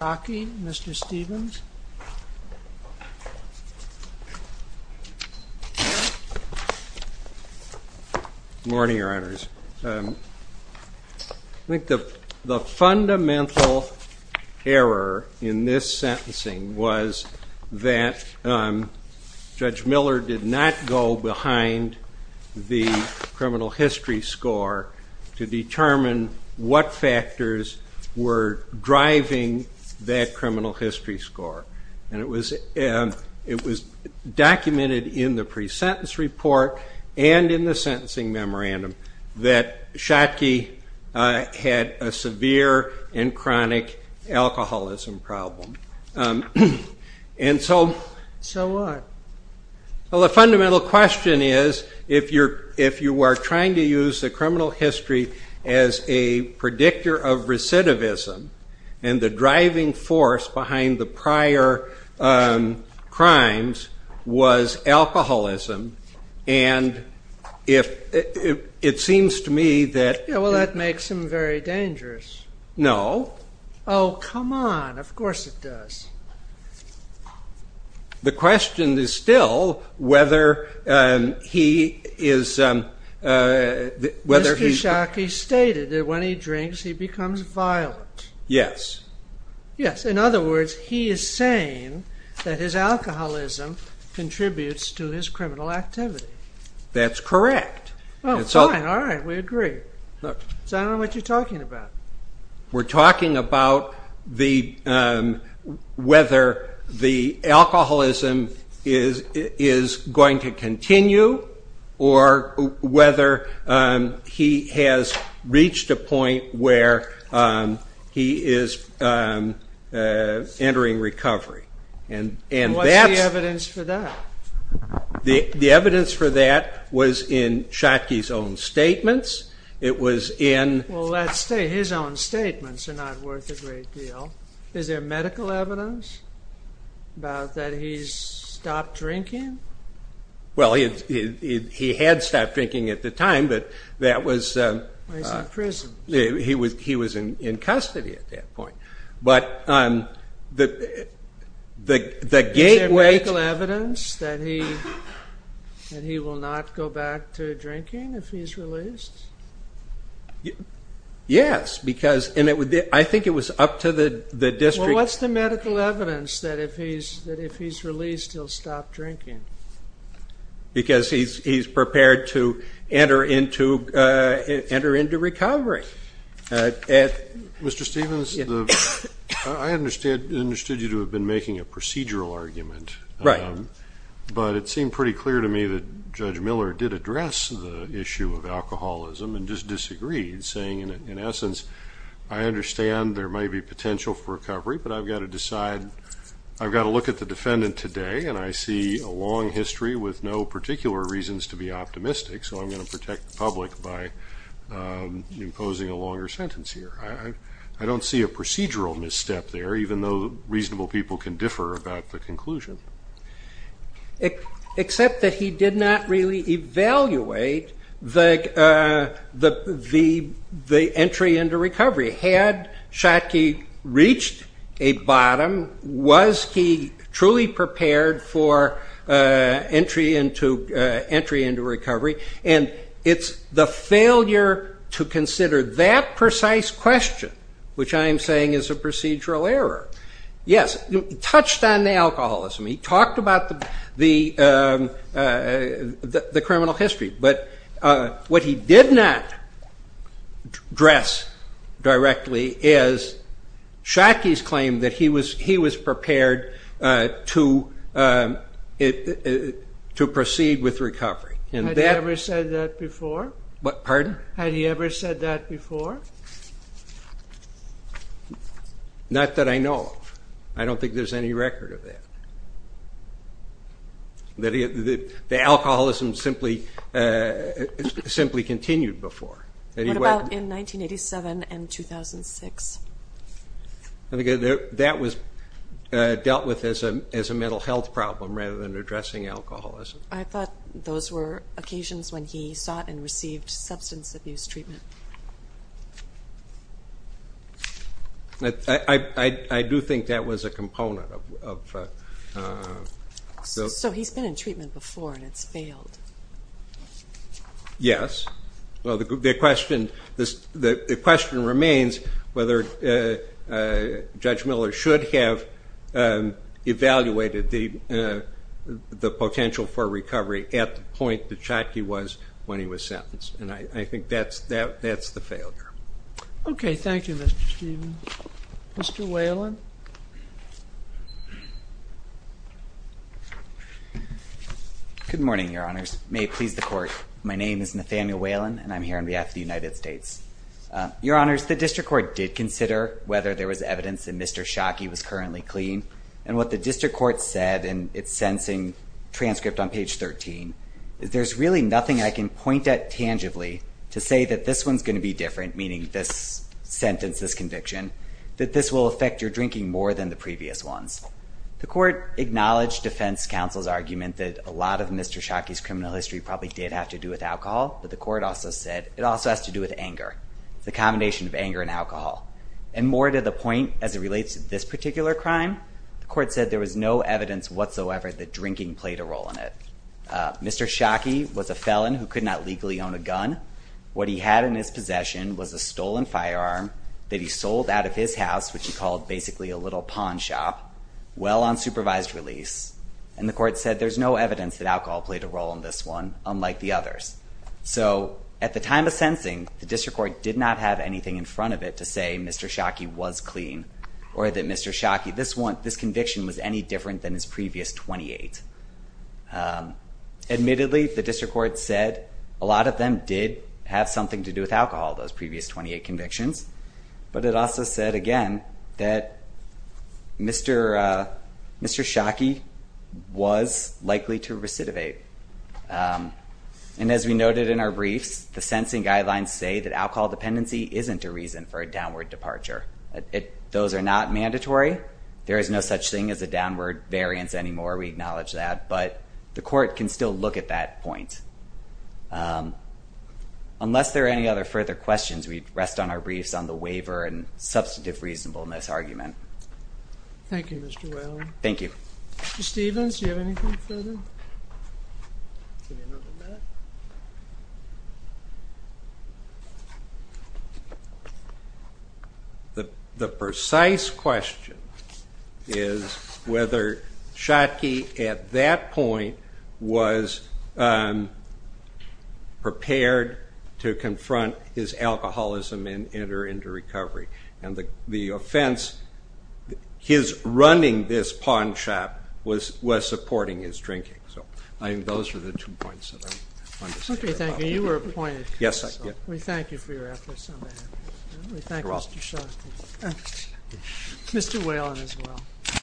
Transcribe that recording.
Mr. Stevens? Morning, Your Honors. I think the fundamental error in this sentencing was that Judge Miller did not go behind the criminal history score to determine what factors were driving that criminal history score. And it was documented in the pre-sentence report and in the sentencing memorandum that Shockey had a severe and chronic alcoholism problem. And so... So what? Well, the fundamental question is if you are trying to use the criminal history as a predictor of recidivism, and the driving force behind the prior crimes was alcoholism, and if it seems to me that... Yeah, well, that makes him very dangerous. No. Oh, come on. Of Mr. Shockey stated that when he drinks he becomes violent. Yes. Yes, in other words, he is saying that his alcoholism contributes to his criminal activity. That's correct. Oh, fine, all right, we agree. So I don't know what you're talking about. We're talking about whether the alcoholism is going to continue or whether he has reached a point where he is entering recovery. And that's... What's the evidence for that? The evidence for that was in Shockey's own statements. It was in... Well, let's say his own statements are not worth a great deal. Is there medical evidence about that he's stopped drinking? Well, he had stopped drinking at the time, but that was... He was in custody at that point. But the gateway... Is there medical evidence that he will not go back to drinking if he's released? Yes, because... And I think it was up to the district... Well, what's the evidence that if he's released he'll stop drinking? Because he's prepared to enter into recovery. Mr. Stephens, I understood you to have been making a procedural argument. Right. But it seemed pretty clear to me that Judge Miller did address the issue of alcoholism and just disagreed, saying, in essence, I understand there may be potential for recovery, but I've got to decide... I've got to look at the defendant today and I see a long history with no particular reasons to be optimistic, so I'm going to protect the public by imposing a longer sentence here. I don't see a procedural misstep there, even though reasonable people can differ about the conclusion. Except that he did not really evaluate the entry into recovery. Had Schottky reached a bottom, was he truly prepared for entry into recovery? And it's the failure to consider that precise question which I am saying is a procedural error. Yes, he touched on the alcoholism, he talked about the criminal history, but what he did not address directly is Schottky's claim that he was prepared to proceed with recovery. Had he ever said that before? Pardon? Had he ever said that before? Not that I know of. I don't think there's any record of that. The alcoholism simply continued before. What about in 1987 and 2006? That was dealt with as a mental health problem rather than addressing alcoholism. I thought those were occasions when he sought and received substance abuse treatment. I do think that was a component of... So he's been in treatment before and it's failed. Yes, well the question remains whether Judge Miller should have evaluated the potential for recovery at the point that Schottky was when he was sentenced. And I think that's the failure. Okay, thank you Mr. Stephen. Mr. Whalen? Good morning, your honors. May it please the court, my name is Nathaniel Whalen and I'm here on behalf of the United States. Your honors, the district court did consider whether there was evidence that Mr. Schottky was currently clean. And what the district court said, and it's sentencing transcript on page 13, is there's really nothing I can point at tangibly to say that this one's going to be different, meaning this sentence, this conviction, that this will affect your drinking more than the previous ones. The court acknowledged defense counsel's argument that a lot of Mr. Schottky's criminal history probably did have to do with alcohol, but the court also said it also has to do with anger, the combination of anger and alcohol. And more to the point as it relates to this particular crime, the court said there was no evidence whatsoever that drinking played a role in it. Mr. Schottky was a felon who could not legally own a gun. What he had in his possession was a stolen firearm that he sold out of his house, which he called basically a little pawn shop, well on supervised release. And the court said there's no evidence that alcohol played a role in this one, unlike the others. So at the time of sentencing, the district court did not have anything in front of it to say Mr. Schottky was clean or that Mr. Schottky, this conviction was any different than his previous 28. Admittedly, the district court said a lot of them did have something to do with alcohol, those previous 28 convictions. But it also said again that Mr. Schottky was likely to recidivate. And as we noted in our briefs, the sentencing guidelines say that alcohol dependency isn't a reason for a downward departure. Those are not mandatory. There is no such thing as a on our briefs on the waiver and substantive reasonableness argument. Thank you, Mr. Whalen. Thank you. Mr. Stevens, do you have anything further? The precise question is whether Schottky at that point was prepared to confront his alcoholism and enter into recovery. And the offense, his running this pawn shop was supporting his drinking. So I think those are the two points. Okay, thank you. You were appointed. Yes, I did. We thank you for your efforts on that. We thank Mr. Schottky. Mr. Whalen as well.